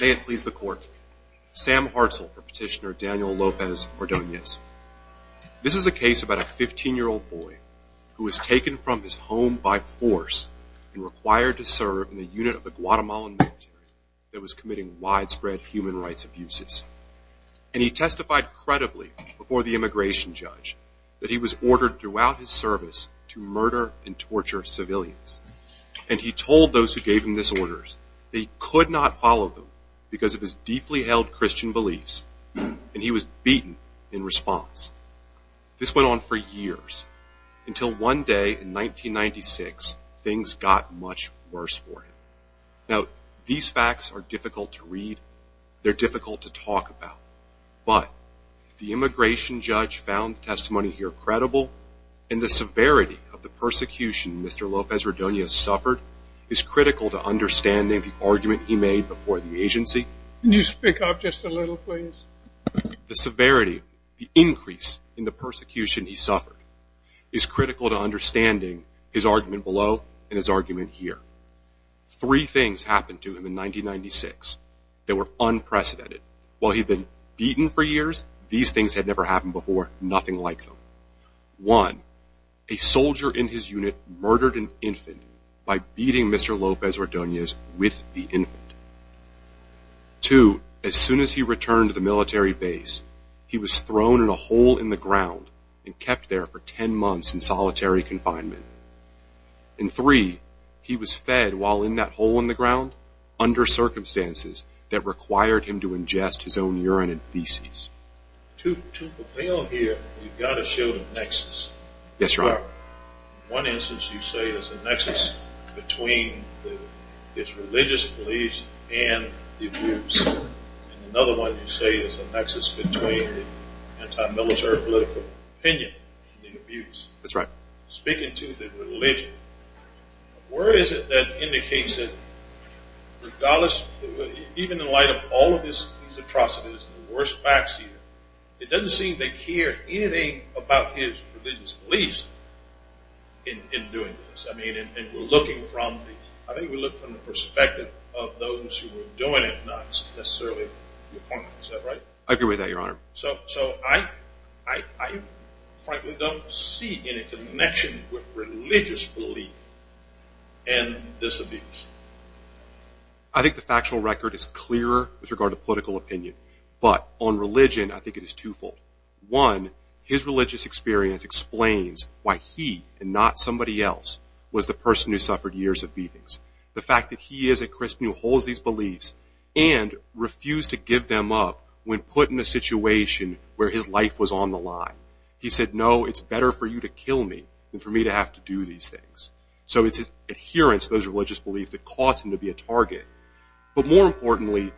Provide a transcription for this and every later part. May it please the court, Sam Hartzell for petitioner Daniel Lopez Ordonez. This is a case about a 15 year old boy who was taken from his home by force and required to serve in the unit of the Guatemalan military that was committing widespread human rights abuses. And he testified credibly before the immigration judge that he was ordered throughout his service to murder and because of his deeply held Christian beliefs and he was beaten in response. This went on for years until one day in 1996 things got much worse for him. Now these facts are difficult to read, they're difficult to talk about, but the immigration judge found testimony here credible and the severity of the persecution Mr. Lopez Ordonez suffered is critical to understanding the agency. Can you speak up just a little please? The severity, the increase in the persecution he suffered is critical to understanding his argument below and his argument here. Three things happened to him in 1996 that were unprecedented. While he'd been beaten for years these things had never happened before, nothing like them. One, a soldier in his unit murdered an infant by beating Mr. Lopez Ordonez with the infant. Two, as soon as he returned to the military base he was thrown in a hole in the ground and kept there for ten months in solitary confinement. And three, he was fed while in that hole in the ground under circumstances that required him to ingest his own urine and feces. To prevail it's religious beliefs and the abuse. Another one you say is a nexus between anti-military political opinion and the abuse. That's right. Speaking to the religion, where is it that indicates it regardless even in light of all of these atrocities, the worst facts here, it doesn't seem to care anything about his religious beliefs in doing this. I mean and we're looking from, I think we look from the perspective of those who were doing it not necessarily. I agree with that your honor. So I frankly don't see any connection with religious belief and this abuse. I think the factual record is clearer with regard to political opinion but on religion I think it is twofold. One, his religious experience explains why he and not somebody else was the person who suffered years of beatings. The fact that he is a Christian who holds these beliefs and refused to give them up when put in a situation where his life was on the line. He said no it's better for you to kill me than for me to have to do these things. So it's his adherence to those religious beliefs that caused him to be a target. But more importantly.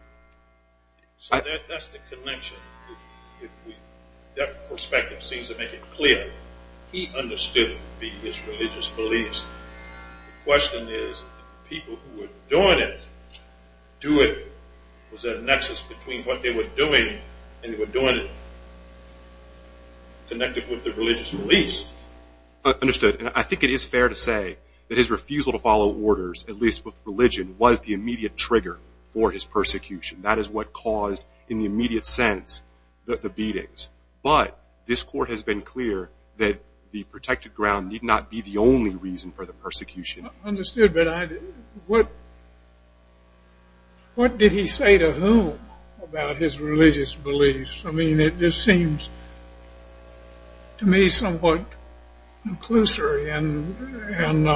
So that's the connection. That perspective seems to make it clear. He understood it would be his religious beliefs. The question is, the people who were doing it, do it. Was there a nexus between what they were doing and they were doing it connected with their religious beliefs? Understood. I think it is fair to say that his refusal to follow orders at least with religion was the immediate trigger for his persecution. That is what caused in the background need not be the only reason for the persecution. Understood. But what did he say to whom about his religious beliefs? I mean it just seems to me somewhat conclusory. And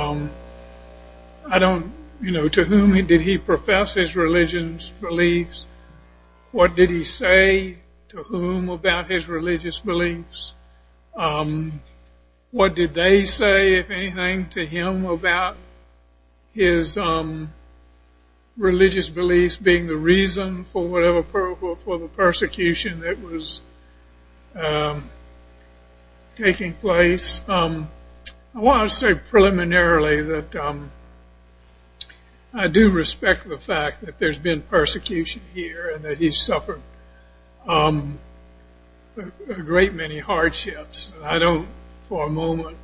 I don't, you know, to whom did he profess his beliefs being the reason for the persecution that was taking place. I want to say preliminarily that I do respect the fact that there's been persecution here and that he's suffered a great many hardships. I don't for a moment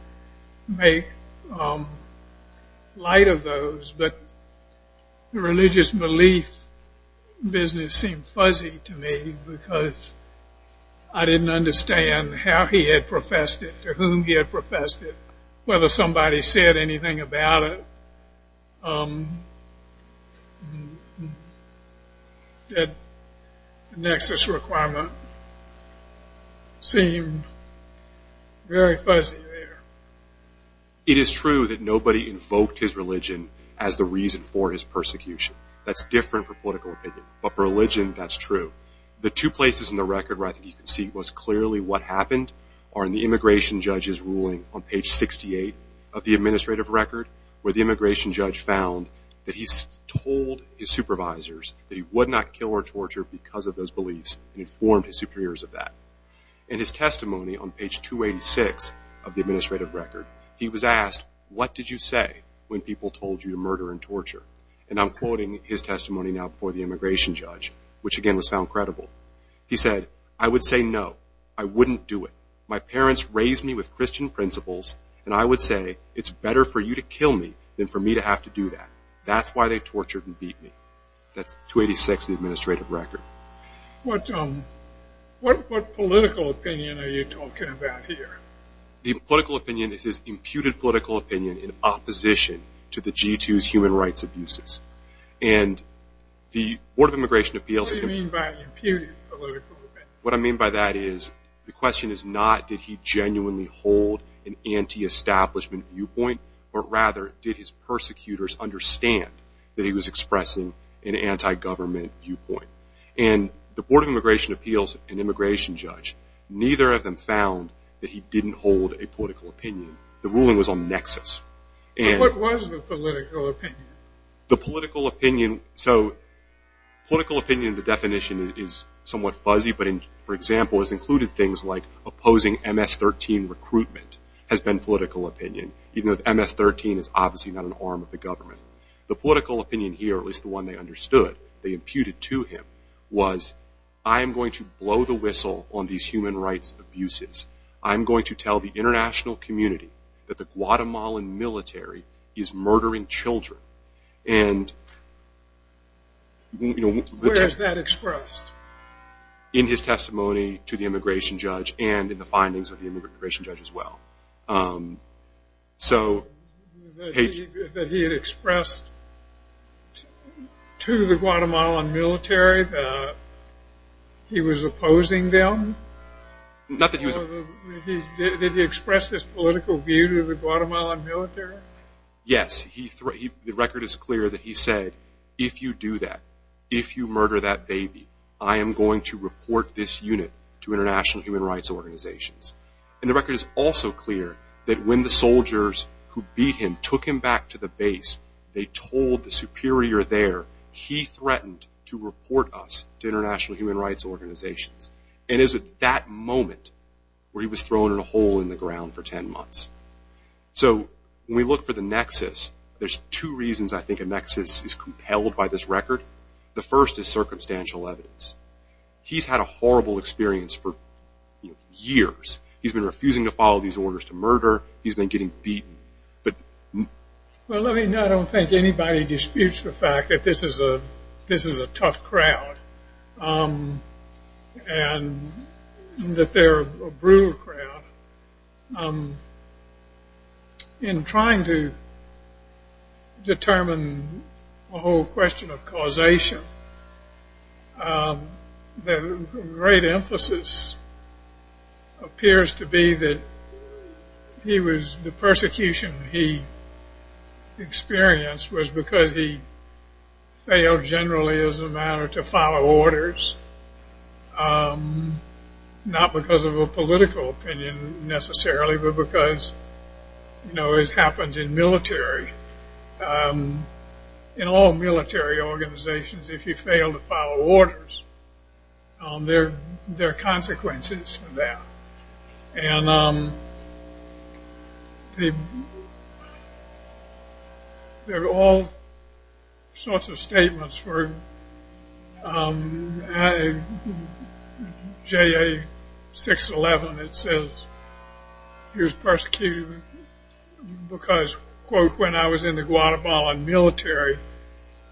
make light of those. But the religious belief business seemed fuzzy to me because I didn't understand how he had professed it, to whom he had professed it, whether somebody said anything about it. The nexus requirement seemed very fuzzy there. It is true that nobody invoked his religion as the reason for his persecution. That's different for political opinion. But for religion that's true. The two places in the record where I think you can see most clearly what happened are in the immigration judge's ruling on page 68 of the administrative record where the immigration judge found that he's told his supervisors that he would not kill or torture because of those beliefs and informed his superiors of that. In his testimony on page 286 of the administrative record, he was asked, what did you say when people told you to murder and torture? And I'm quoting his testimony now before the immigration judge, which again was found credible. He said, I would say no. I wouldn't do it. My parents raised me with Christian principles and I would say it's better for you to kill me than for me to have to do that. That's why they tortured and beat me. That's 286 of the administrative record. What political opinion are you talking about here? What do you mean by imputed political opinion? What was the political opinion? I'm going to blow the whistle on these human rights abuses. I'm going to tell the international community that the Guatemalan military is murdering children. Where is that expressed? In his testimony to the immigration judge and in the findings of the immigration judge as well. That he had expressed to the Guatemalan military that he was opposing them? Not that he was opposing them. Did he express this political view to the Guatemalan military? Yes. The record is clear that he said, if you do that, if you murder that baby, I am going to report this unit to international human rights organizations. And the record is also clear that when the soldiers who beat him took him back to the base, they told the superior there, he threatened to report us to international human rights organizations. And it was at that moment where he was thrown in a hole in the ground for 10 months. So, when we look for the nexus, there's two reasons I think a nexus is compelled by this record. The first is circumstantial evidence. He's had a horrible experience for years. He's been refusing to follow these orders to murder. He's been getting beaten. Well, let me know. I don't think anybody disputes the fact that this is a tough crowd and that they're a brutal crowd. But in trying to determine the whole question of causation, the great emphasis appears to be that he was, the persecution he experienced was because he failed generally as a matter to follow orders. Not because of a political opinion necessarily, but because, you know, as happens in military, in all military organizations, if you fail to follow orders, there are consequences for that. And there are all sorts of statements for JA611. It says he was persecuted because, quote, when I was in the Guatemalan military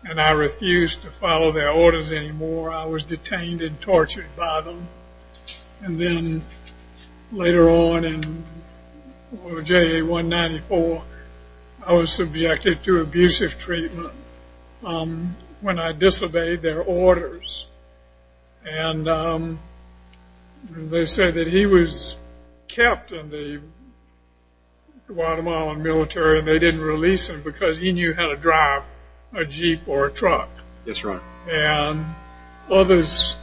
and I refused to follow their orders anymore, I was detained and tortured by them. And then later on in JA194, I was subjected to abusive treatment when I disobeyed their orders. And they said that he was kept in the Guatemalan military and they didn't release him because he knew how to drive a Jeep or a truck. And others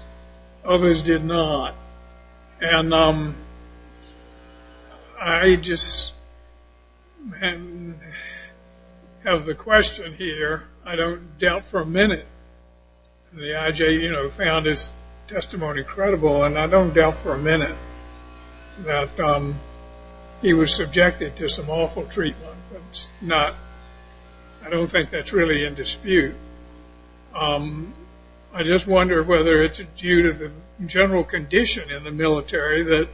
did not. And I just have the question here, I don't doubt for a minute, the IJ found his testimony credible, and I don't doubt for a minute that he was subjected to some awful treatment. I don't think that's really in dispute. I just wonder whether it's due to the general condition in the military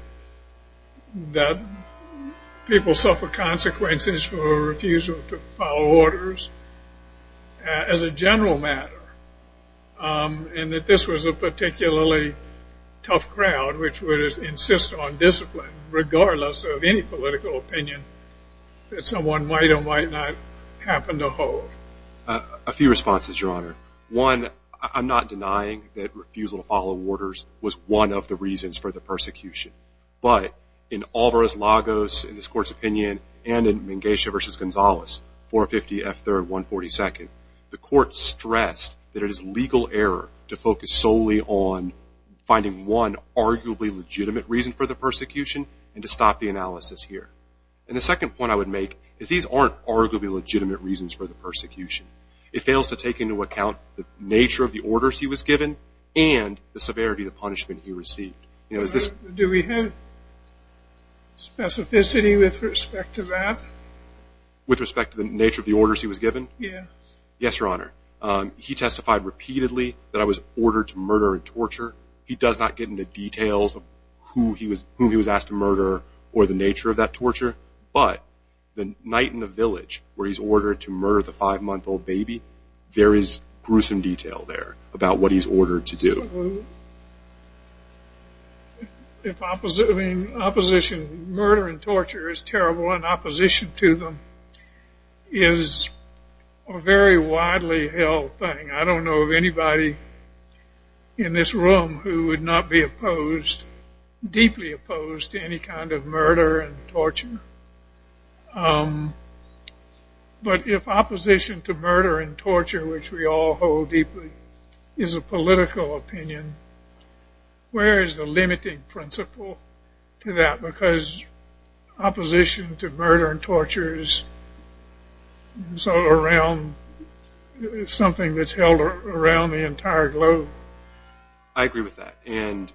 that people suffer consequences for refusal to follow orders as a general matter. And that this was a particularly tough crowd which would insist on discipline regardless of any political opinion that someone might or might not happen to hold. A few responses, Your Honor. One, I'm not denying that refusal to follow orders was one of the reasons for the persecution. But in Alvarez-Lagos, in this court's opinion, and in Minghecia v. Gonzalez, 450 F. 3rd, 142nd, the court stressed that it is legal error to focus solely on finding one arguably legitimate reason for the persecution and to stop the analysis here. And the second point I would make is these aren't arguably legitimate reasons for the persecution. It fails to take into account the nature of the orders he was given and the severity of the punishment he received. Do we have specificity with respect to that? With respect to the nature of the orders he was given? Yes. Yes, Your Honor. He testified repeatedly that I was ordered to murder and torture. He does not get into details of whom he was asked to murder or the nature of that torture. But the night in the village where he's ordered to murder the five-month-old baby, there is gruesome detail there about what he's ordered to do. I mean, murder and torture is terrible, and opposition to them is a very widely held thing. I don't know of anybody in this room who would not be opposed, deeply opposed, to any kind of murder and torture. But if opposition to murder and torture, which we all hold deeply, is a political opinion, where is the limiting principle to that? Because opposition to murder and torture is something that's held around the entire globe. I agree with that. And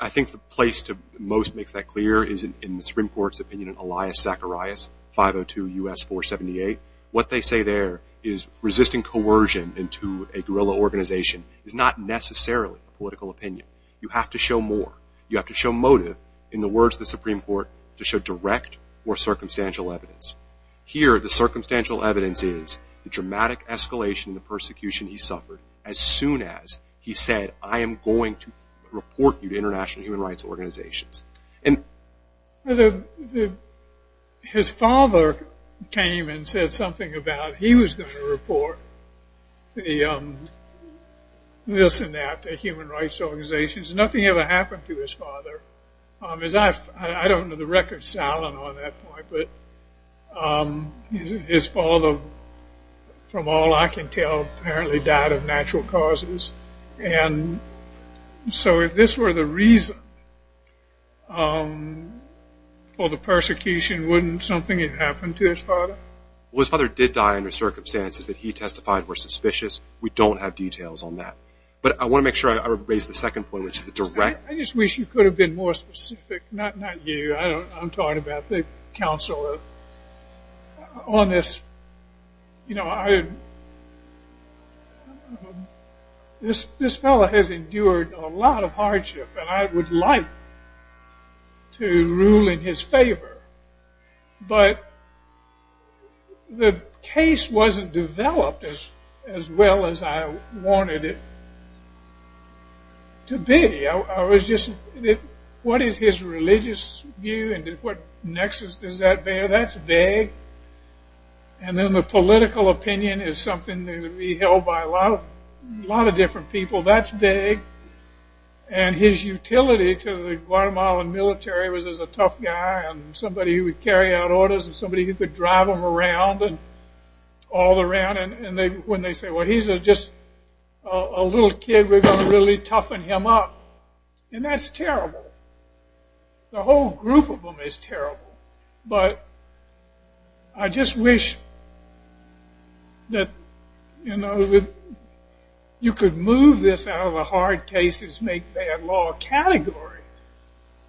I think the place that most makes that clear is in the Supreme Court's opinion in Elias Zacharias, 502 U.S. 478. What they say there is resisting coercion into a guerrilla organization is not necessarily a political opinion. You have to show more. You have to show motive, in the words of the Supreme Court, to show direct or circumstantial evidence. Here, the circumstantial evidence is the dramatic escalation in the persecution he suffered as soon as he said, I am going to report you to international human rights organizations. His father came and said something about he was going to report this and that to human rights organizations. Nothing ever happened to his father. I don't know the records on that point, but his father, from all I can tell, apparently died of natural causes. And so if this were the reason for the persecution, wouldn't something have happened to his father? Well, his father did die under circumstances that he testified were suspicious. We don't have details on that. But I want to make sure I raise the second point, which is the direct... I just wish you could have been more specific, not you. I'm talking about the counsel on this. This fellow has endured a lot of hardship, and I would like to rule in his favor. But the case wasn't developed as well as I wanted it to be. What is his religious view? What nexus does that bear? That's vague. And then the political opinion is something to be held by a lot of different people. That's vague. And his utility to the Guatemalan military was as a tough guy and somebody who would carry out orders and somebody who could drive him around and all around. And when they say, well, he's just a little kid. We're going to really toughen him up. And that's terrible. The whole group of them is terrible. But I just wish that you could move this out of the hard cases make bad law category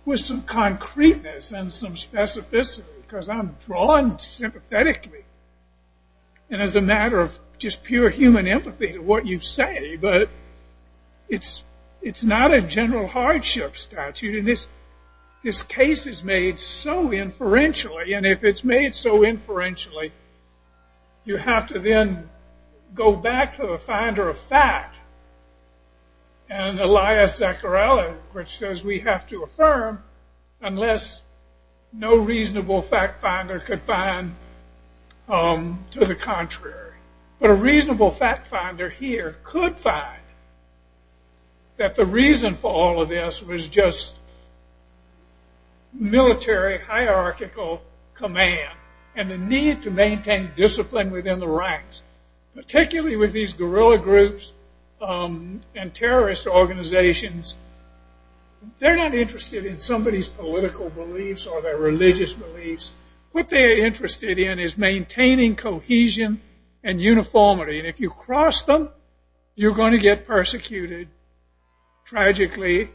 with some concreteness and some specificity. Because I'm drawn sympathetically and as a matter of just pure human empathy to what you say. But it's not a general hardship statute. And this case is made so inferentially. And if it's made so inferentially, you have to then go back to the finder of fact. And Elias Zaccarelli, which says we have to affirm unless no reasonable fact finder could find to the contrary. But a reasonable fact finder here could find that the reason for all of this was just military hierarchical command. And the need to maintain discipline within the ranks, particularly with these guerrilla groups and terrorist organizations. They're not interested in somebody's political beliefs or their religious beliefs. What they're interested in is maintaining cohesion and uniformity. And if you cross them, you're going to get persecuted tragically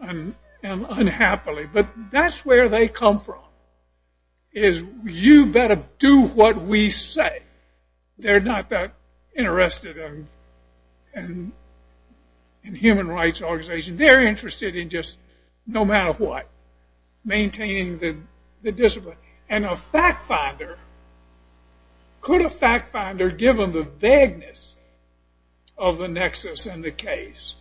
and unhappily. But that's where they come from is you better do what we say. They're not that interested in human rights organization. They're interested in just no matter what, maintaining the discipline. And a fact finder, could a fact finder given the vagueness of the nexus in the case,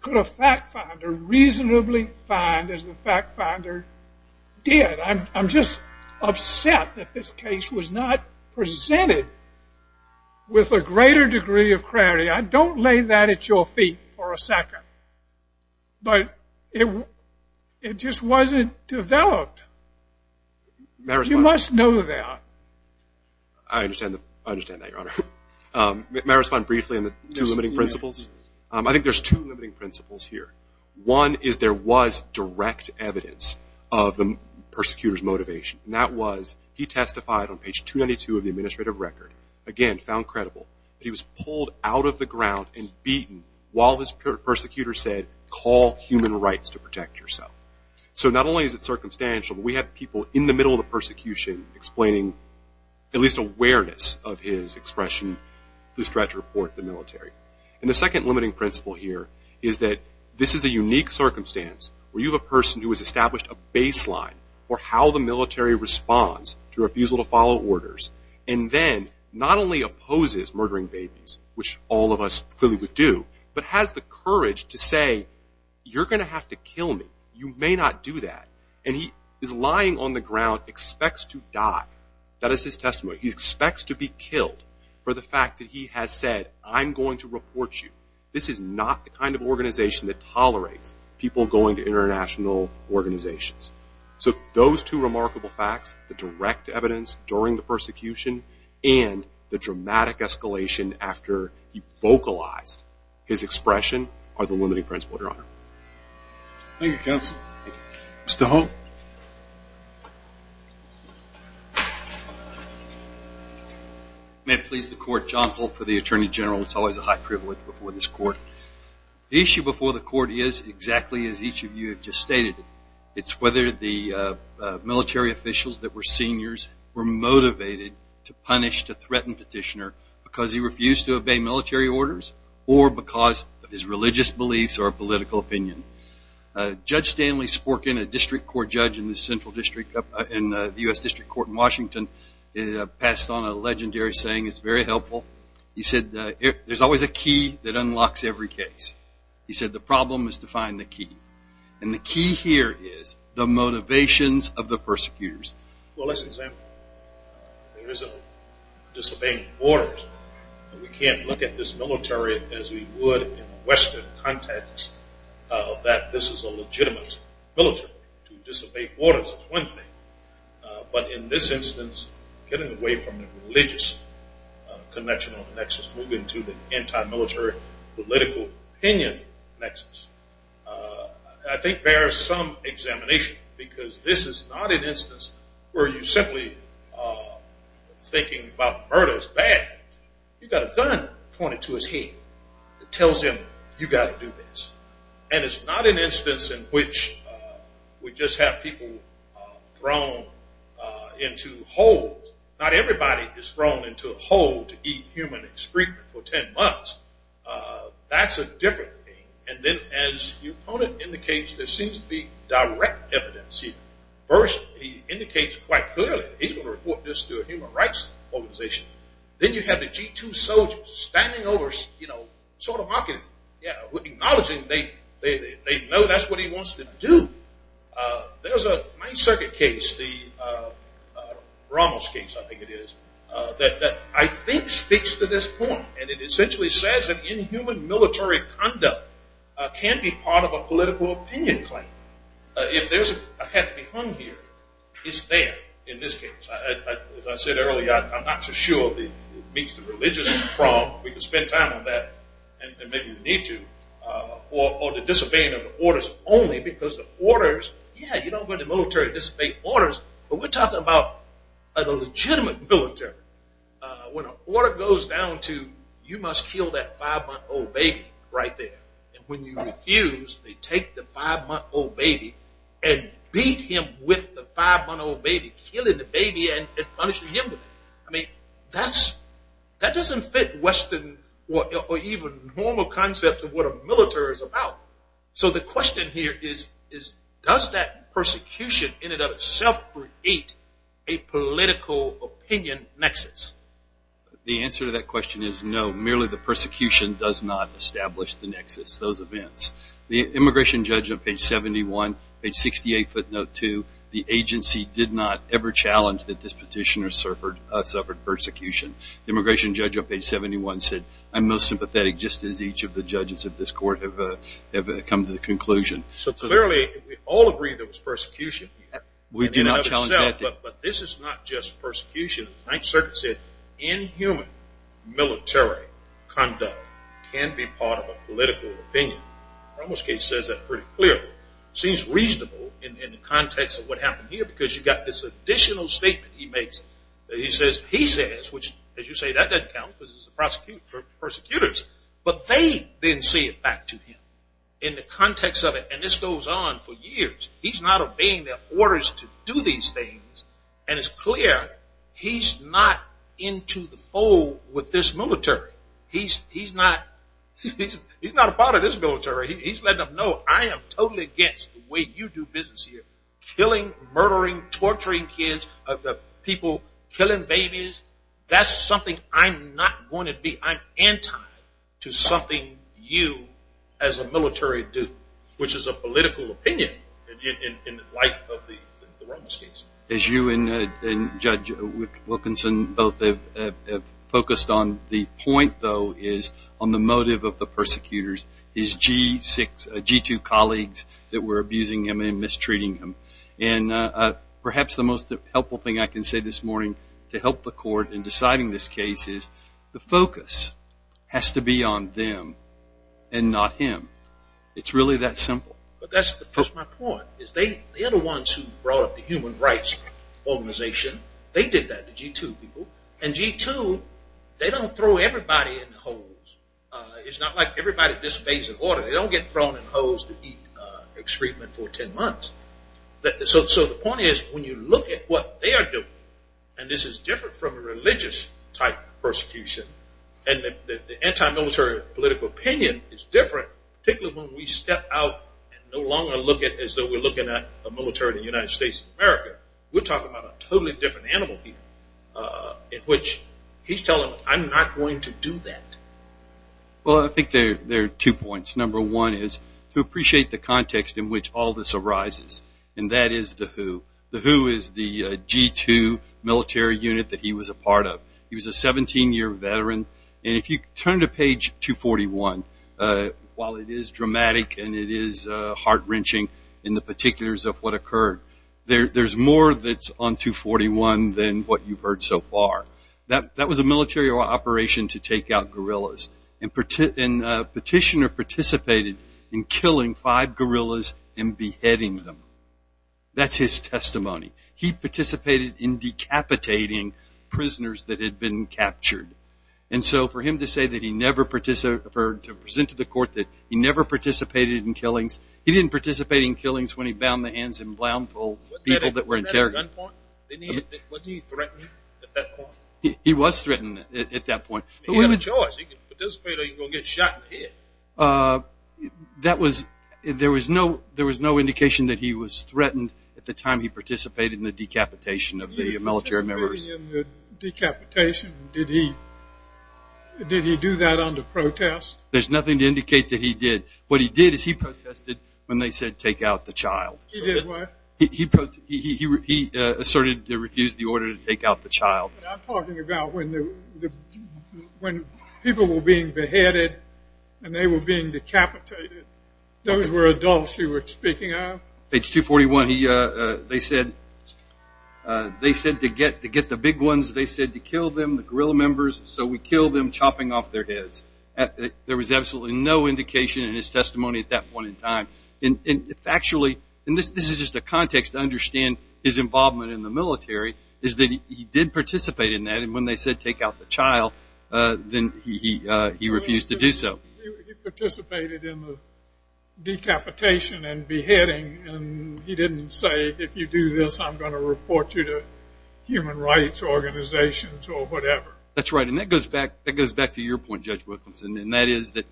could a fact finder reasonably find as the fact finder did? I'm just upset that this case was not presented with a greater degree of clarity. I don't lay that at your feet for a second. But it just wasn't developed. You must know that. I understand that, Your Honor. May I respond briefly on the two limiting principles? I think there's two limiting principles here. One is there was direct evidence of the persecutor's motivation. And that was he testified on page 292 of the administrative record, again found credible, that he was pulled out of the ground and beaten while his persecutor said, call human rights to protect yourself. So not only is it circumstantial, but we have people in the middle of the persecution explaining at least awareness of his expression through threat to report to the military. And the second limiting principle here is that this is a unique circumstance where you have a person who has established a baseline for how the military responds to refusal to follow orders and then not only opposes murdering babies, which all of us clearly would do, but has the courage to say, you're going to have to kill me. You may not do that. And he is lying on the ground, expects to die. That is his testimony. He expects to be killed for the fact that he has said, I'm going to report you. This is not the kind of organization that tolerates people going to international organizations. So those two remarkable facts, the direct evidence during the persecution and the dramatic escalation after he vocalized his expression, are the limiting principle, Your Honor. Thank you, counsel. Mr. Holt. May it please the court, John Holt for the Attorney General. It's always a high privilege before this court. The issue before the court is exactly as each of you have just stated. It's whether the military officials that were seniors were motivated to punish, to threaten Petitioner because he refused to obey military orders or because his religious beliefs or political opinion. Judge Stanley Sporkin, a district court judge in the central district, in the U.S. District Court in Washington, passed on a legendary saying. It's very helpful. He said there's always a key that unlocks every case. He said the problem is to find the key. And the key here is the motivations of the persecutors. Well, let's examine. There is a disobeying orders. We can't look at this military as we would in Western context that this is a legitimate military to disobey orders. It's one thing. But in this instance, getting away from the religious connection on the nexus, moving to the anti-military political opinion nexus, I think bears some examination because this is not an instance where you're simply thinking about murder as bad. You've got a gun pointed to his head that tells him you've got to do this. And it's not an instance in which we just have people thrown into holes. Not everybody is thrown into a hole to eat human excrement for 10 months. That's a different thing. And then as your opponent indicates, there seems to be direct evidence here. First, he indicates quite clearly he's going to report this to a human rights organization. Then you have the G2 soldiers standing over sort of mocking, acknowledging they know that's what he wants to do. There's a Ninth Circuit case, the Ramos case I think it is, that I think speaks to this point. And it essentially says that inhuman military conduct can be part of a political opinion claim. If there's a head to be hung here, it's there in this case. As I said earlier, I'm not so sure it meets the religious problem. We can spend time on that, and maybe we need to. Or the disobeying of the orders only because the orders, yeah, you don't go into the military to disobey orders. But we're talking about a legitimate military. When an order goes down to you must kill that five-month-old baby right there, and when you refuse, they take the five-month-old baby and beat him with the five-month-old baby, killing the baby and punishing him. I mean, that doesn't fit Western or even normal concepts of what a military is about. So the question here is, does that persecution in and of itself create a political opinion nexus? The answer to that question is no. Merely the persecution does not establish the nexus, those events. The immigration judge on page 71, page 68, footnote 2, the agency did not ever challenge that this petitioner suffered persecution. The immigration judge on page 71 said, I'm most sympathetic just as each of the judges of this court have come to the conclusion. So clearly we all agree there was persecution. We do not challenge that. But this is not just persecution. The Ninth Circuit said inhuman military conduct can be part of a political opinion. Ramos case says that pretty clearly. It seems reasonable in the context of what happened here because you've got this additional statement he makes. He says, which as you say, that doesn't count because it's the prosecutors. But they then say it back to him in the context of it. And this goes on for years. He's not obeying their orders to do these things. And it's clear he's not into the fold with this military. He's not a part of this military. He's letting them know, I am totally against the way you do business here, killing, murdering, torturing kids, people killing babies. That's something I'm not going to be. I'm anti to something you as a military do, which is a political opinion in light of the Ramos case. As you and Judge Wilkinson both have focused on, the point, though, is on the motive of the persecutors, his G-2 colleagues that were abusing him and mistreating him. And perhaps the most helpful thing I can say this morning to help the court in deciding this case is, the focus has to be on them and not him. It's really that simple. But that's my point. The other ones who brought up the human rights organization, they did that, the G-2 people. And G-2, they don't throw everybody in the holes. It's not like everybody disobeys the order. They don't get thrown in holes to eat excrement for ten months. So the point is, when you look at what they are doing, and this is different from a religious type of persecution, and the anti-military political opinion is different, particularly when we step out and no longer look at it as though we're looking at the military of the United States of America. We're talking about a totally different animal here, in which he's telling us, I'm not going to do that. Well, I think there are two points. Number one is to appreciate the context in which all this arises, and that is the WHO. The WHO is the G-2 military unit that he was a part of. He was a 17-year veteran. And if you turn to page 241, while it is dramatic and it is heart-wrenching in the particulars of what occurred, there's more that's on 241 than what you've heard so far. That was a military operation to take out gorillas. And Petitioner participated in killing five gorillas and beheading them. That's his testimony. He participated in decapitating prisoners that had been captured. And so for him to say that he never participated in killings, he didn't participate in killings when he bound the hands of people that were interrogated. Wasn't he threatened at that point? He was threatened at that point. He had a choice. He could participate or he was going to get shot and hit. There was no indication that he was threatened at the time he participated in the decapitation of the military members. Did he do that under protest? There's nothing to indicate that he did. What he did is he protested when they said take out the child. He did what? He asserted to refuse the order to take out the child. I'm talking about when people were being beheaded and they were being decapitated. Those were adults you were speaking of? Page 241, they said to get the big ones, they said to kill them, the gorilla members, so we killed them chopping off their heads. There was absolutely no indication in his testimony at that point in time. And factually, and this is just a context to understand his involvement in the military, is that he did participate in that, and when they said take out the child, then he refused to do so. He participated in the decapitation and beheading, and he didn't say if you do this, I'm going to report you to human rights organizations or whatever. That's right, and that goes back to your point, Judge Wilkinson, and that is the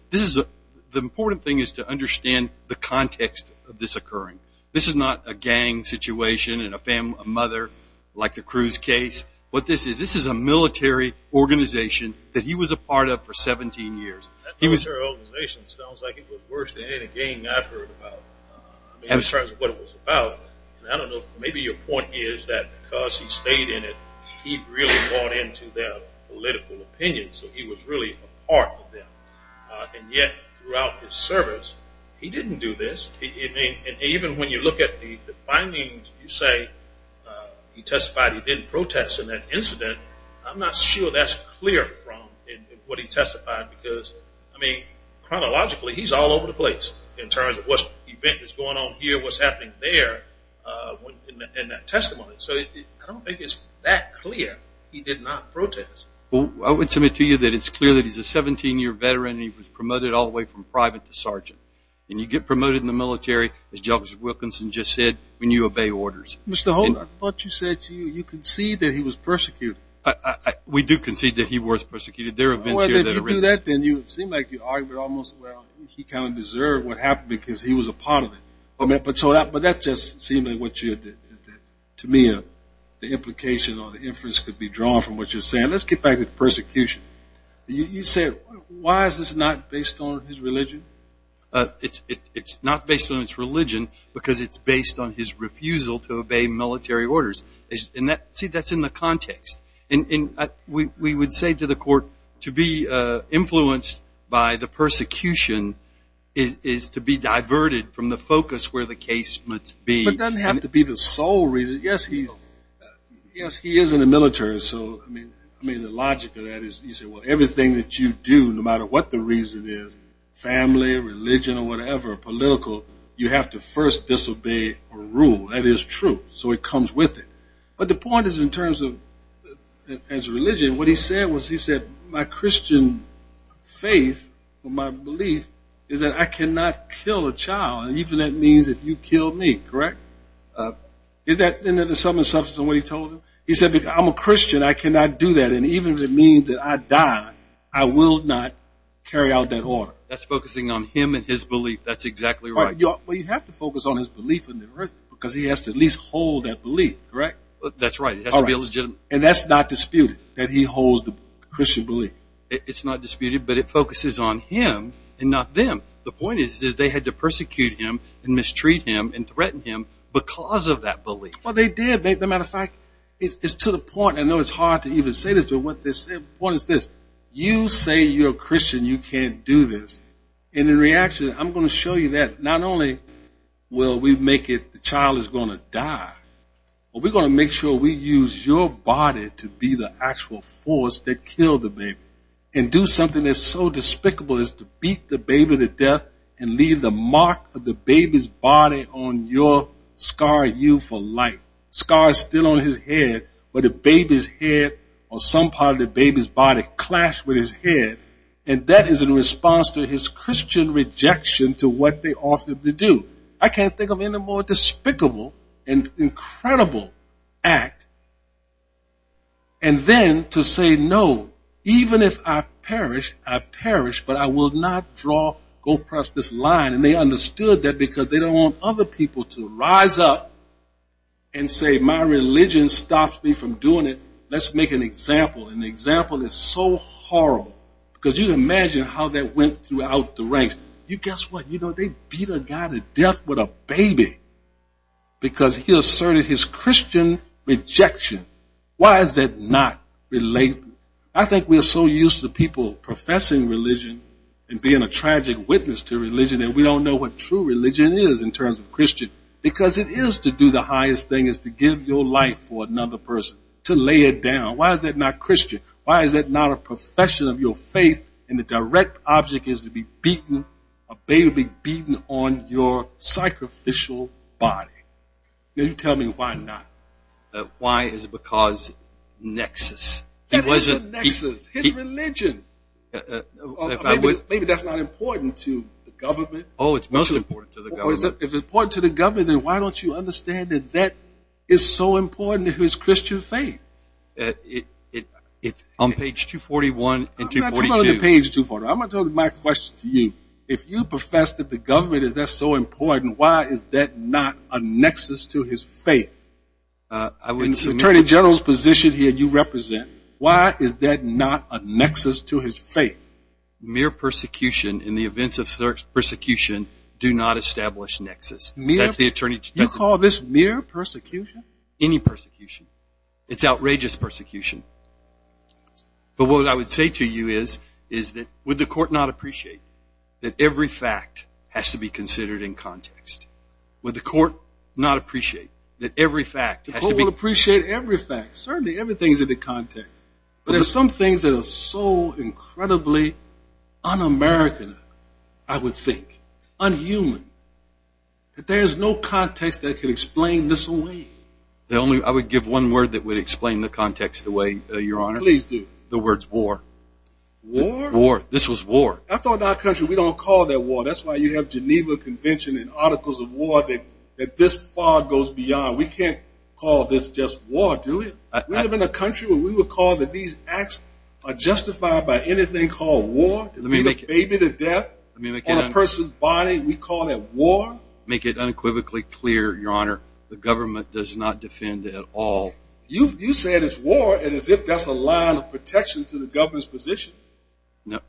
important thing is to understand the context of this occurring. This is not a gang situation and a mother like the Cruz case. What this is, this is a military organization that he was a part of for 17 years. That military organization sounds like it was worse than any gang I've heard about. I don't know if maybe your point is that because he stayed in it, he really bought into their political opinions, so he was really a part of them. And yet, throughout his service, he didn't do this. Even when you look at the findings, you say he testified he didn't protest in that incident. I'm not sure that's clear from what he testified because, I mean, chronologically, he's all over the place in terms of what's going on here, what's happening there in that testimony. So I don't think it's that clear he did not protest. Well, I would submit to you that it's clear that he's a 17-year veteran and he was promoted all the way from private to sergeant, and you get promoted in the military, as Judge Wilkinson just said, when you obey orders. Mr. Holden, I thought you said you concede that he was persecuted. We do concede that he was persecuted. There are events here that are in this. Well, if you do that, then you seem like you argue that almost, well, he kind of deserved what happened because he was a part of it. But that just seemed like what you, to me, the implication or the inference could be drawn from what you're saying. Let's get back to persecution. You said why is this not based on his religion? It's not based on his religion because it's based on his refusal to obey military orders. See, that's in the context. We would say to the court to be influenced by the persecution is to be diverted from the focus where the case must be. But it doesn't have to be the sole reason. Yes, he is in the military. I mean, the logic of that is you say, well, everything that you do, no matter what the reason is, family, religion or whatever, political, you have to first disobey a rule. That is true. So it comes with it. But the point is in terms of his religion, what he said was he said, my Christian faith or my belief is that I cannot kill a child, and even that means that you killed me, correct? Isn't that the sum and substance of what he told you? He said, I'm a Christian. I cannot do that. And even if it means that I die, I will not carry out that order. That's focusing on him and his belief. That's exactly right. Well, you have to focus on his belief because he has to at least hold that belief, correct? That's right. It has to be legitimate. And that's not disputed, that he holds the Christian belief. It's not disputed, but it focuses on him and not them. The point is they had to persecute him and mistreat him and threaten him because of that belief. Well, they did. As a matter of fact, it's to the point, I know it's hard to even say this, but the point is this. You say you're a Christian, you can't do this. And in reaction, I'm going to show you that not only will we make it the child is going to die, but we're going to make sure we use your body to be the actual force that killed the baby and do something that's so despicable as to beat the baby to death and leave the mark of the baby's body on your scar you for life. The scar is still on his head, but the baby's head or some part of the baby's body clashed with his head, and that is in response to his Christian rejection to what they offered him to do. I can't think of any more despicable and incredible act. And then to say no, even if I perish, I perish, but I will not go across this line. And they understood that because they don't want other people to rise up and say my religion stops me from doing it. Let's make an example, and the example is so horrible because you can imagine how that went throughout the ranks. You guess what? They beat a guy to death with a baby because he asserted his Christian rejection. Why is that not relatable? I think we are so used to people professing religion and being a tragic witness to religion, and we don't know what true religion is in terms of Christian, because it is to do the highest thing is to give your life for another person, to lay it down. Why is that not Christian? Why is that not a profession of your faith, and the direct object is to be beaten, a baby beaten on your sacrificial body? Can you tell me why not? Why is it because nexus? That isn't a nexus. His religion. Maybe that's not important to the government. Oh, it's most important to the government. If it's important to the government, then why don't you understand that that is so important to his Christian faith? On page 241 and 242. On page 241. I'm going to tell my question to you. If you profess that the government is so important, why is that not a nexus to his faith? In the attorney general's position here you represent, why is that not a nexus to his faith? Mere persecution in the events of persecution do not establish nexus. You call this mere persecution? Any persecution. It's outrageous persecution. But what I would say to you is that would the court not appreciate that every fact has to be considered in context? Would the court not appreciate that every fact has to be? The court would appreciate every fact. Certainly everything is in the context. But there are some things that are so incredibly un-American, I would think, un-human, that there is no context that can explain this away. I would give one word that would explain the context away, Your Honor. Please do. The word is war. War? War. This was war. I thought in our country we don't call that war. That's why you have Geneva Convention and articles of war that this far goes beyond. We can't call this just war, do we? We live in a country where we would call that these acts are justified by anything called war. To be the baby to death on a person's body, we call that war? Make it unequivocally clear, Your Honor, the government does not defend at all. You say it's war as if that's a line of protection to the government's position.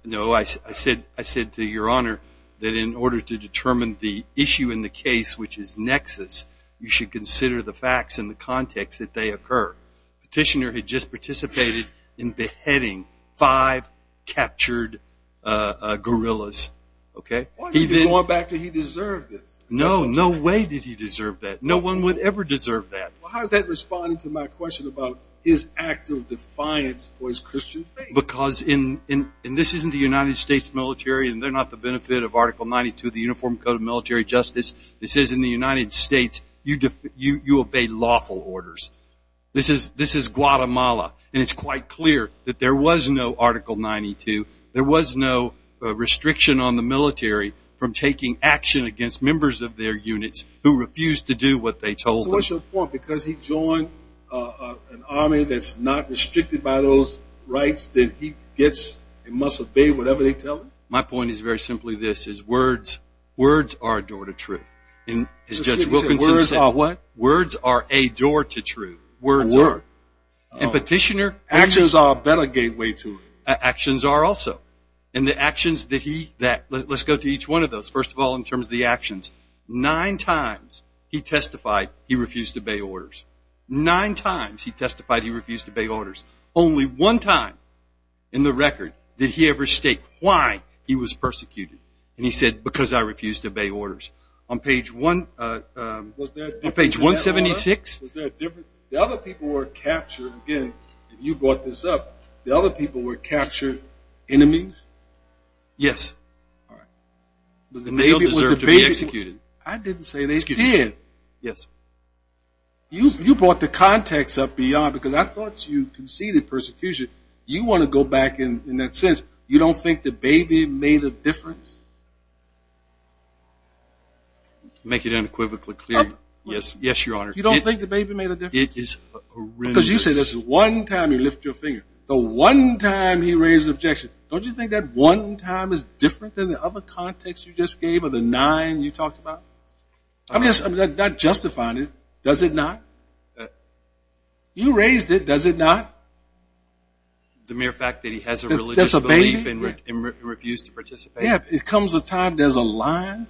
No, I said to Your Honor that in order to determine the issue in the case, which is nexus, you should consider the facts in the context that they occur. Petitioner had just participated in beheading five captured guerrillas. Why do you keep going back to he deserved this? No, no way did he deserve that. No one would ever deserve that. How is that responding to my question about his act of defiance for his Christian faith? Because this isn't the United States military, and they're not the benefit of Article 92 of the Uniform Code of Military Justice. This is in the United States. You obey lawful orders. This is Guatemala, and it's quite clear that there was no Article 92. There was no restriction on the military from taking action against members of their units who refused to do what they told them. So what's your point? Because he joined an army that's not restricted by those rights, then he must obey whatever they tell him? My point is very simply this, is words are a door to truth. As Judge Wilkinson said. Words are what? Words are a door to truth. Words are. And Petitioner? Actions are a better gateway to it. Actions are also. And the actions that he, let's go to each one of those. First of all, in terms of the actions, nine times he testified he refused to obey orders. Nine times he testified he refused to obey orders. Only one time in the record did he ever state why he was persecuted. And he said, because I refused to obey orders. On page 176? The other people were captured. Again, you brought this up. The other people were captured enemies? Yes. All right. Was the baby executed? I didn't say they did. Yes. You brought the context up beyond, because I thought you conceded persecution. You want to go back in that sense. You don't think the baby made a difference? Make it unequivocally clear. Yes, Your Honor. You don't think the baby made a difference? It is horrendous. I said this is one time you lift your finger. The one time he raised an objection. Don't you think that one time is different than the other context you just gave or the nine you talked about? I'm just not justifying it. Does it not? You raised it. Does it not? The mere fact that he has a religious belief and refused to participate? Yes. It comes a time there's a line.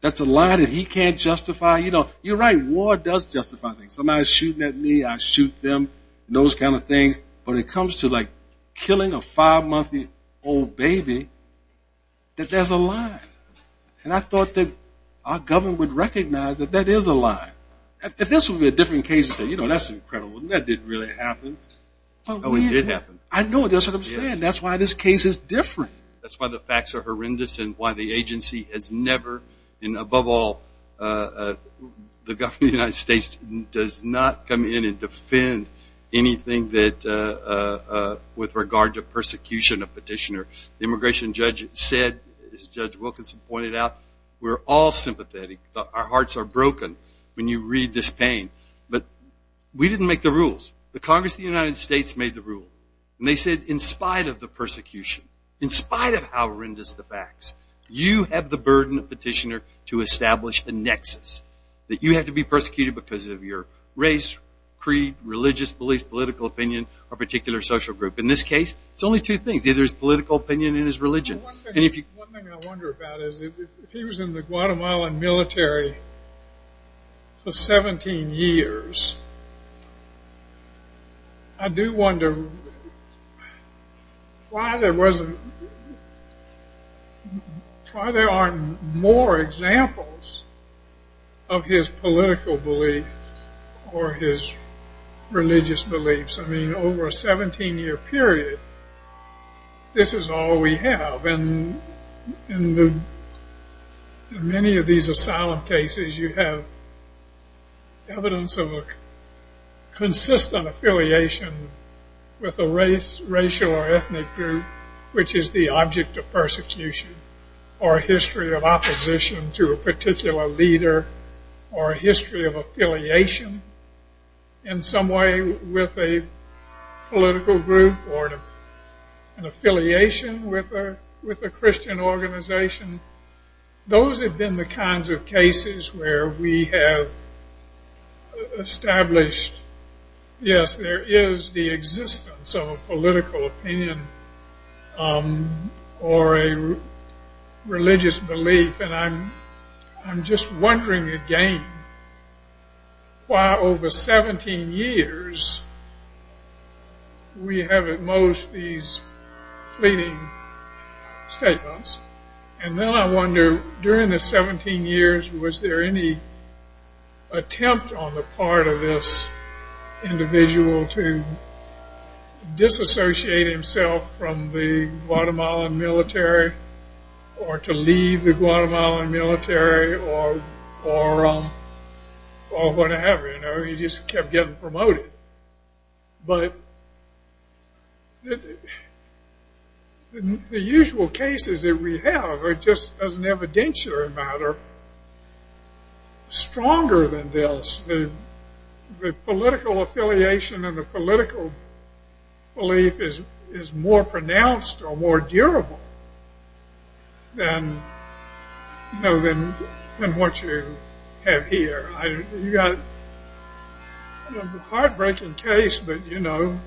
That's a line that he can't justify. You're right. War does justify things. Somebody's shooting at me, I shoot them, those kind of things. But it comes to, like, killing a five-month-old baby, that there's a line. And I thought that our government would recognize that that is a line. This would be a different case and say, you know, that's incredible. That didn't really happen. Oh, it did happen. I know. That's what I'm saying. That's why this case is different. That's why the facts are horrendous and why the agency has never, and above all, the government of the United States does not come in and defend anything with regard to persecution of petitioner. The immigration judge said, as Judge Wilkinson pointed out, we're all sympathetic. Our hearts are broken when you read this pain. But we didn't make the rules. The Congress of the United States made the rules. And they said, in spite of the persecution, in spite of how horrendous the facts, you have the burden of petitioner to establish a nexus, that you have to be persecuted because of your race, creed, religious beliefs, political opinion, or particular social group. In this case, it's only two things. Either it's political opinion and it's religion. One thing I wonder about is, if he was in the Guatemalan military for 17 years, I do wonder why there aren't more examples of his political belief or his religious beliefs. I mean, over a 17-year period, this is all we have. In many of these asylum cases, you have evidence of a consistent affiliation with a race, racial or ethnic group, which is the object of persecution, or a history of opposition to a particular leader, or a history of affiliation in some way with a political group, or an affiliation with a Christian organization. Those have been the kinds of cases where we have established, yes, there is the existence of a political opinion or a religious belief. I'm just wondering again why, over 17 years, we have at most these fleeting statements. And then I wonder, during the 17 years, was there any attempt on the part of this individual to disassociate himself from the Guatemalan military, or to leave the Guatemalan military, or whatever, you know? He just kept getting promoted. But the usual cases that we have are just, as an evidentiary matter, stronger than this. The political affiliation and the political belief is more pronounced or more durable than what you have here. You've got a heartbreaking case, but, you know,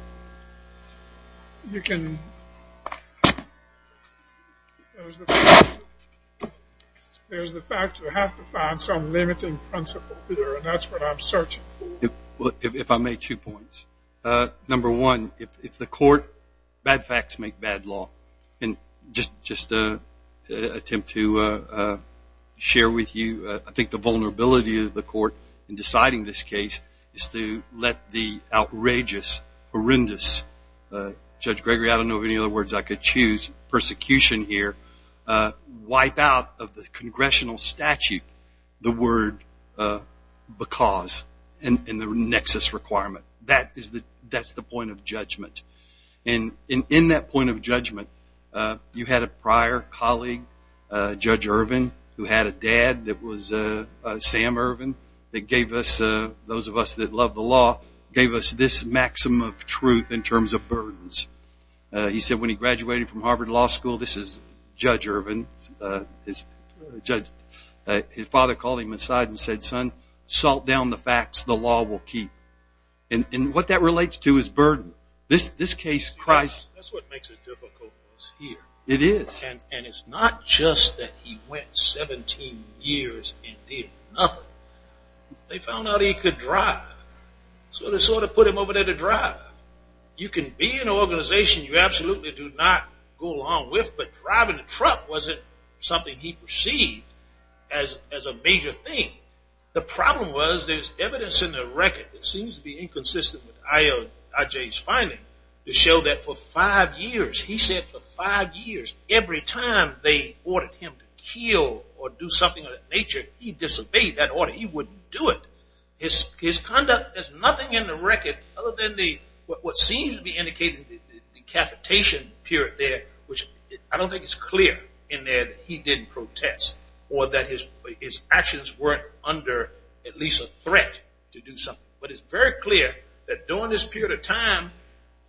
you can... There's the fact you have to find some limiting principle here, and that's what I'm searching for. If I may, two points. Number one, if the court, bad facts make bad law. And just to attempt to share with you, I think the vulnerability of the court in deciding this case is to let the outrageous, horrendous, Judge Gregory, I don't know of any other words I could choose, persecution here, wipe out of the congressional statute the word because, and the nexus requirement. That's the point of judgment. And in that point of judgment, you had a prior colleague, Judge Irvin, who had a dad that was Sam Irvin, that gave us, those of us that love the law, gave us this maximum of truth in terms of burdens. He said when he graduated from Harvard Law School, this is Judge Irvin, his father called him aside and said, son, salt down the facts, the law will keep. And what that relates to is burden. This case, Christ... That's what makes it difficult for us here. It is. And it's not just that he went 17 years and did nothing. They found out he could drive. So they sort of put him over there to drive. You can be in an organization you absolutely do not go along with, but driving a truck wasn't something he perceived as a major thing. The problem was there's evidence in the record that seems to be inconsistent with I.J.'s finding to show that for five years, he said for five years, every time they ordered him to kill or do something of that nature, he disobeyed that order. He wouldn't do it. His conduct has nothing in the record other than what seems to be indicated in the decapitation period there, which I don't think it's clear in there that he didn't protest or that his actions weren't under at least a threat to do something. But it's very clear that during this period of time,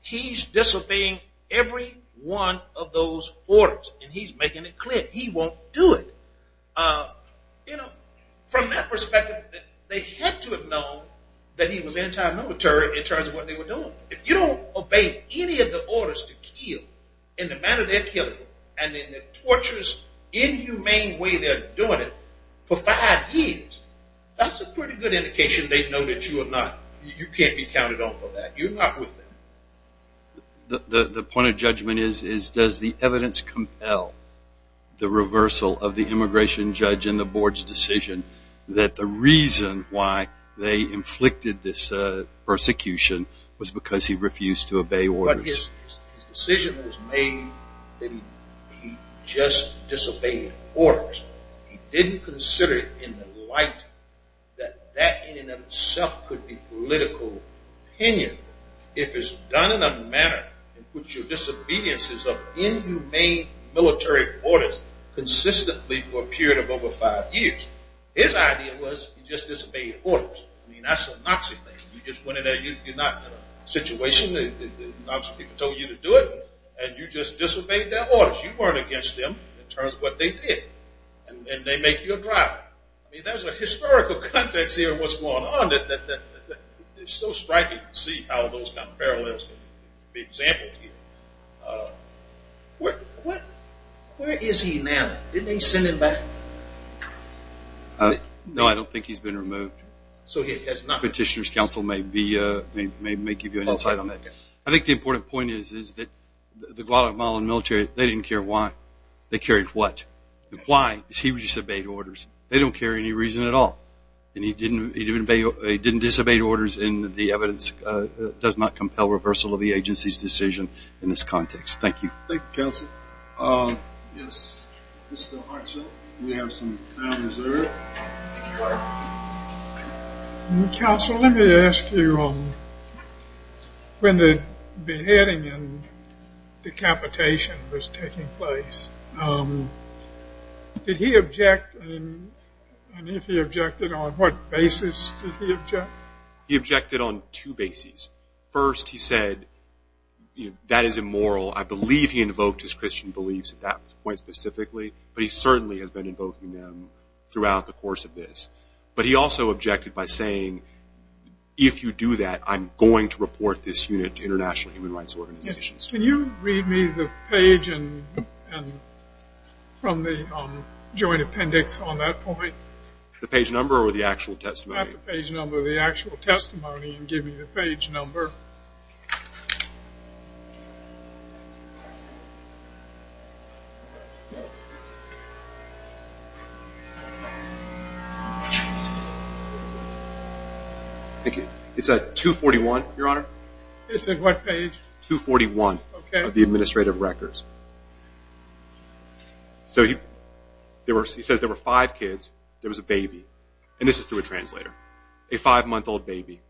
he's disobeying every one of those orders, and he's making it clear he won't do it. From that perspective, they had to have known that he was anti-military in terms of what they were doing. If you don't obey any of the orders to kill in the manner they're killing him and in the torturous, inhumane way they're doing it for five years, that's a pretty good indication they know that you can't be counted on for that. You're not with them. The point of judgment is does the evidence compel the reversal of the immigration judge in the board's decision that the reason why they inflicted this persecution was because he refused to obey orders? His decision was made that he just disobeyed orders. He didn't consider it in the light that that in and of itself could be political opinion if it's done in a manner in which your disobedience is of inhumane military orders consistently for a period of over five years. His idea was he just disobeyed orders. I mean, that's a Nazi thing. You just went in there. You're not in a situation. The Nazi people told you to do it, and you just disobeyed their orders. You weren't against them in terms of what they did, and they make you a driver. I mean, there's a historical context here in what's going on. It's so striking to see how those kind of parallels can be exampled here. Where is he now? Didn't they send him back? No, I don't think he's been removed. Petitioner's counsel may give you an insight on that. I think the important point is that the Guatemalan military, they didn't care why. They cared what. Why? Because he disobeyed orders. They don't care any reason at all. And he didn't disobey orders, and the evidence does not compel reversal of the agency's decision in this context. Thank you. Thank you, counsel. Yes, Mr. Hartzell, we have some time reserved. Counsel, let me ask you, when the beheading and decapitation was taking place, did he object? And if he objected, on what basis did he object? He objected on two bases. First, he said, you know, that is immoral. I believe he invoked his Christian beliefs at that point specifically, but he certainly has been invoking them throughout the course of this. But he also objected by saying, if you do that, I'm going to report this unit to international human rights organizations. Can you read me the page from the joint appendix on that point? The page number or the actual testimony? Not the page number, the actual testimony. Give me the page number. It's at 241, Your Honor. It's at what page? 241 of the administrative records. So he says there were five kids. There was a baby. And this is through a translator. A five-month-old baby.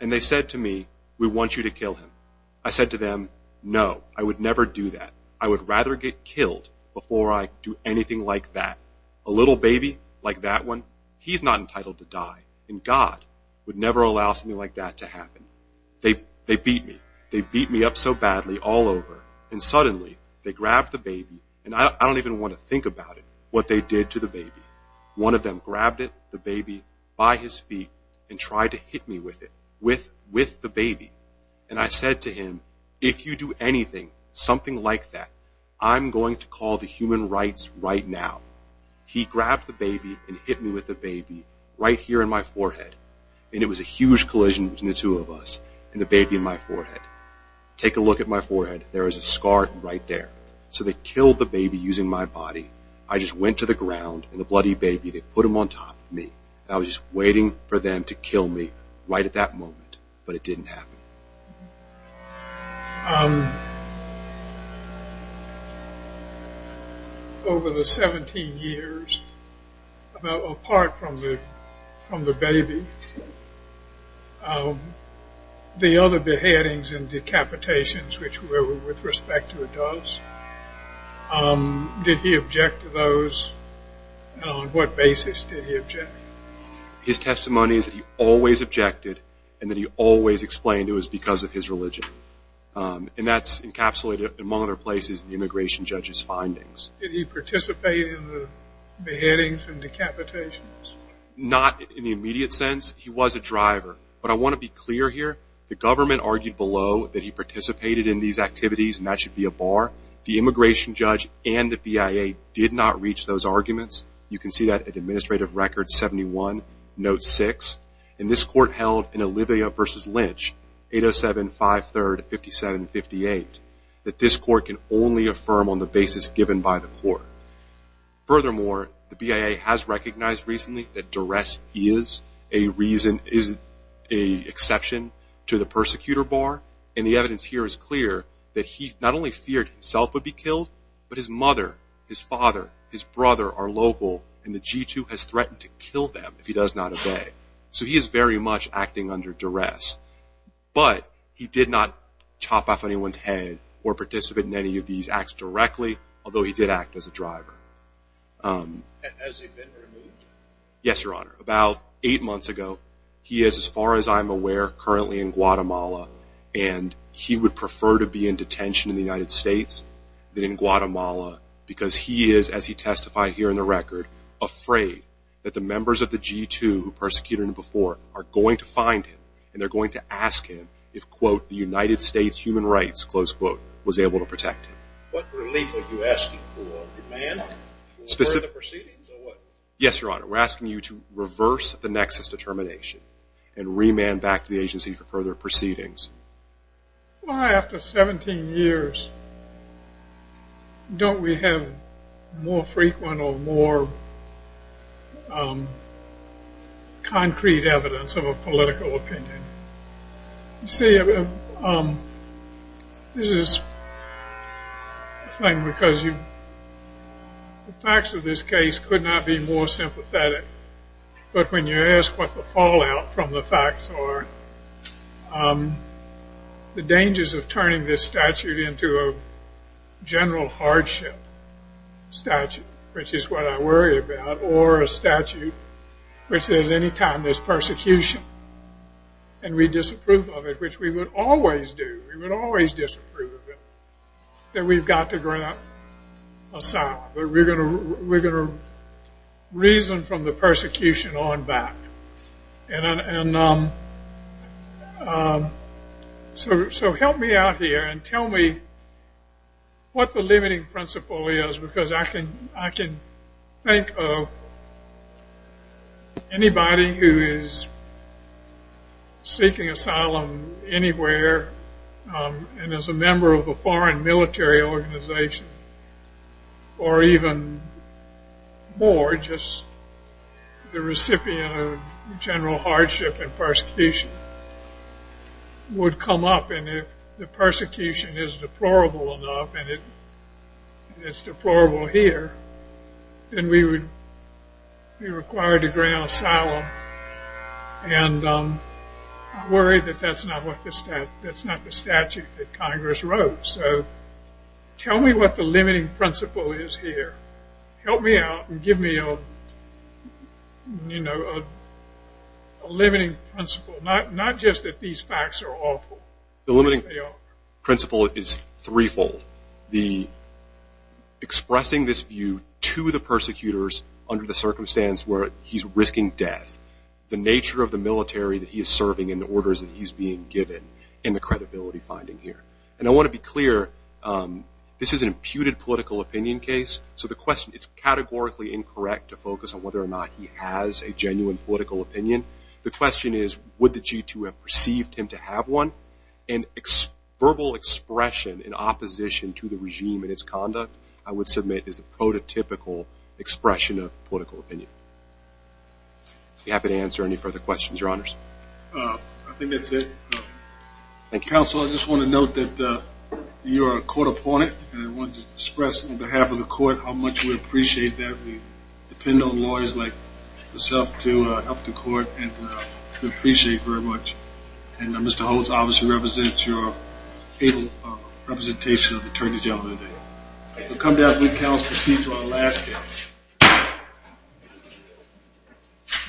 And they said to me, we want you to kill him. I said to them, no, I would never do that. I would rather get killed before I do anything like that. A little baby like that one, he's not entitled to die. And God would never allow something like that to happen. They beat me. They beat me up so badly all over. And suddenly they grabbed the baby, and I don't even want to think about it, what they did to the baby. One of them grabbed the baby by his feet and tried to hit me with it, with the baby. And I said to him, if you do anything, something like that, I'm going to call the human rights right now. He grabbed the baby and hit me with the baby right here in my forehead. And it was a huge collision between the two of us and the baby in my forehead. Take a look at my forehead. There is a scar right there. So they killed the baby using my body. I just went to the ground, and the bloody baby, they put him on top of me. I was just waiting for them to kill me right at that moment. But it didn't happen. Over the 17 years, apart from the baby, the other beheadings and decapitations, which were with respect to adults, did he object to those? On what basis did he object? His testimony is that he always objected, and that he always explained it was because of his religion. And that's encapsulated, among other places, in the immigration judge's findings. Did he participate in the beheadings and decapitations? Not in the immediate sense. He was a driver. But I want to be clear here. The government argued below that he participated in these activities, and that should be a bar. The immigration judge and the BIA did not reach those arguments. You can see that at Administrative Record 71, Note 6. And this court held in Olivia v. Lynch, 807-5-3-57-58, that this court can only affirm on the basis given by the court. Furthermore, the BIA has recognized recently that duress is a reason, is an exception to the persecutor bar. And the evidence here is clear that he not only feared himself would be killed, but his mother, his father, his brother are local, and the G2 has threatened to kill them if he does not obey. So he is very much acting under duress. But he did not chop off anyone's head or participate in any of these acts directly, although he did act as a driver. Has he been removed? Yes, Your Honor. About eight months ago, he is, as far as I'm aware, currently in Guatemala, and he would prefer to be in detention in the United States than in Guatemala because he is, as he testified here in the record, afraid that the members of the G2 who persecuted him before are going to find him and they're going to ask him if, quote, the United States human rights, close quote, was able to protect him. What relief are you asking for, your man? For the proceedings or what? Yes, Your Honor. We're asking you to reverse the nexus determination and remand back to the agency for further proceedings. Why, after 17 years, don't we have more frequent or more concrete evidence of a political opinion? See, this is a thing because the facts of this case could not be more sympathetic, but when you ask what the fallout from the facts are, the dangers of turning this statute into a general hardship statute, which is what I worry about, or a statute which says any time there's persecution and we disapprove of it, which we would always do, we would always disapprove of it, that we've got to grant asylum. We're going to reason from the persecution on back. So help me out here and tell me what the limiting principle is because I can think of anybody who is seeking asylum anywhere and is a member of a foreign military organization or even more just the recipient of general hardship and persecution would come up and if the persecution is deplorable enough and it's deplorable here, then we would be required to grant asylum and I'm worried that that's not the statute that Congress wrote. So tell me what the limiting principle is here. Help me out and give me a limiting principle, not just that these facts are awful. The limiting principle is threefold. Expressing this view to the persecutors under the circumstance where he's risking death, the nature of the military that he is serving and the orders that he's being given and the credibility finding here. And I want to be clear, this is an imputed political opinion case, so the question is categorically incorrect to focus on whether or not he has a genuine political opinion. The question is would the G2 have perceived him to have one and verbal expression in opposition to the regime and its conduct, I would submit is the prototypical expression of political opinion. I'd be happy to answer any further questions, Your Honors. I think that's it. Counsel, I just want to note that you are a court opponent and I wanted to express on behalf of the court how much we appreciate that. We depend on lawyers like yourself to help the court and we appreciate very much. And Mr. Holtz obviously represents your able representation of the attorney gentlemen today. We'll come down to the counsel and proceed to our last guest.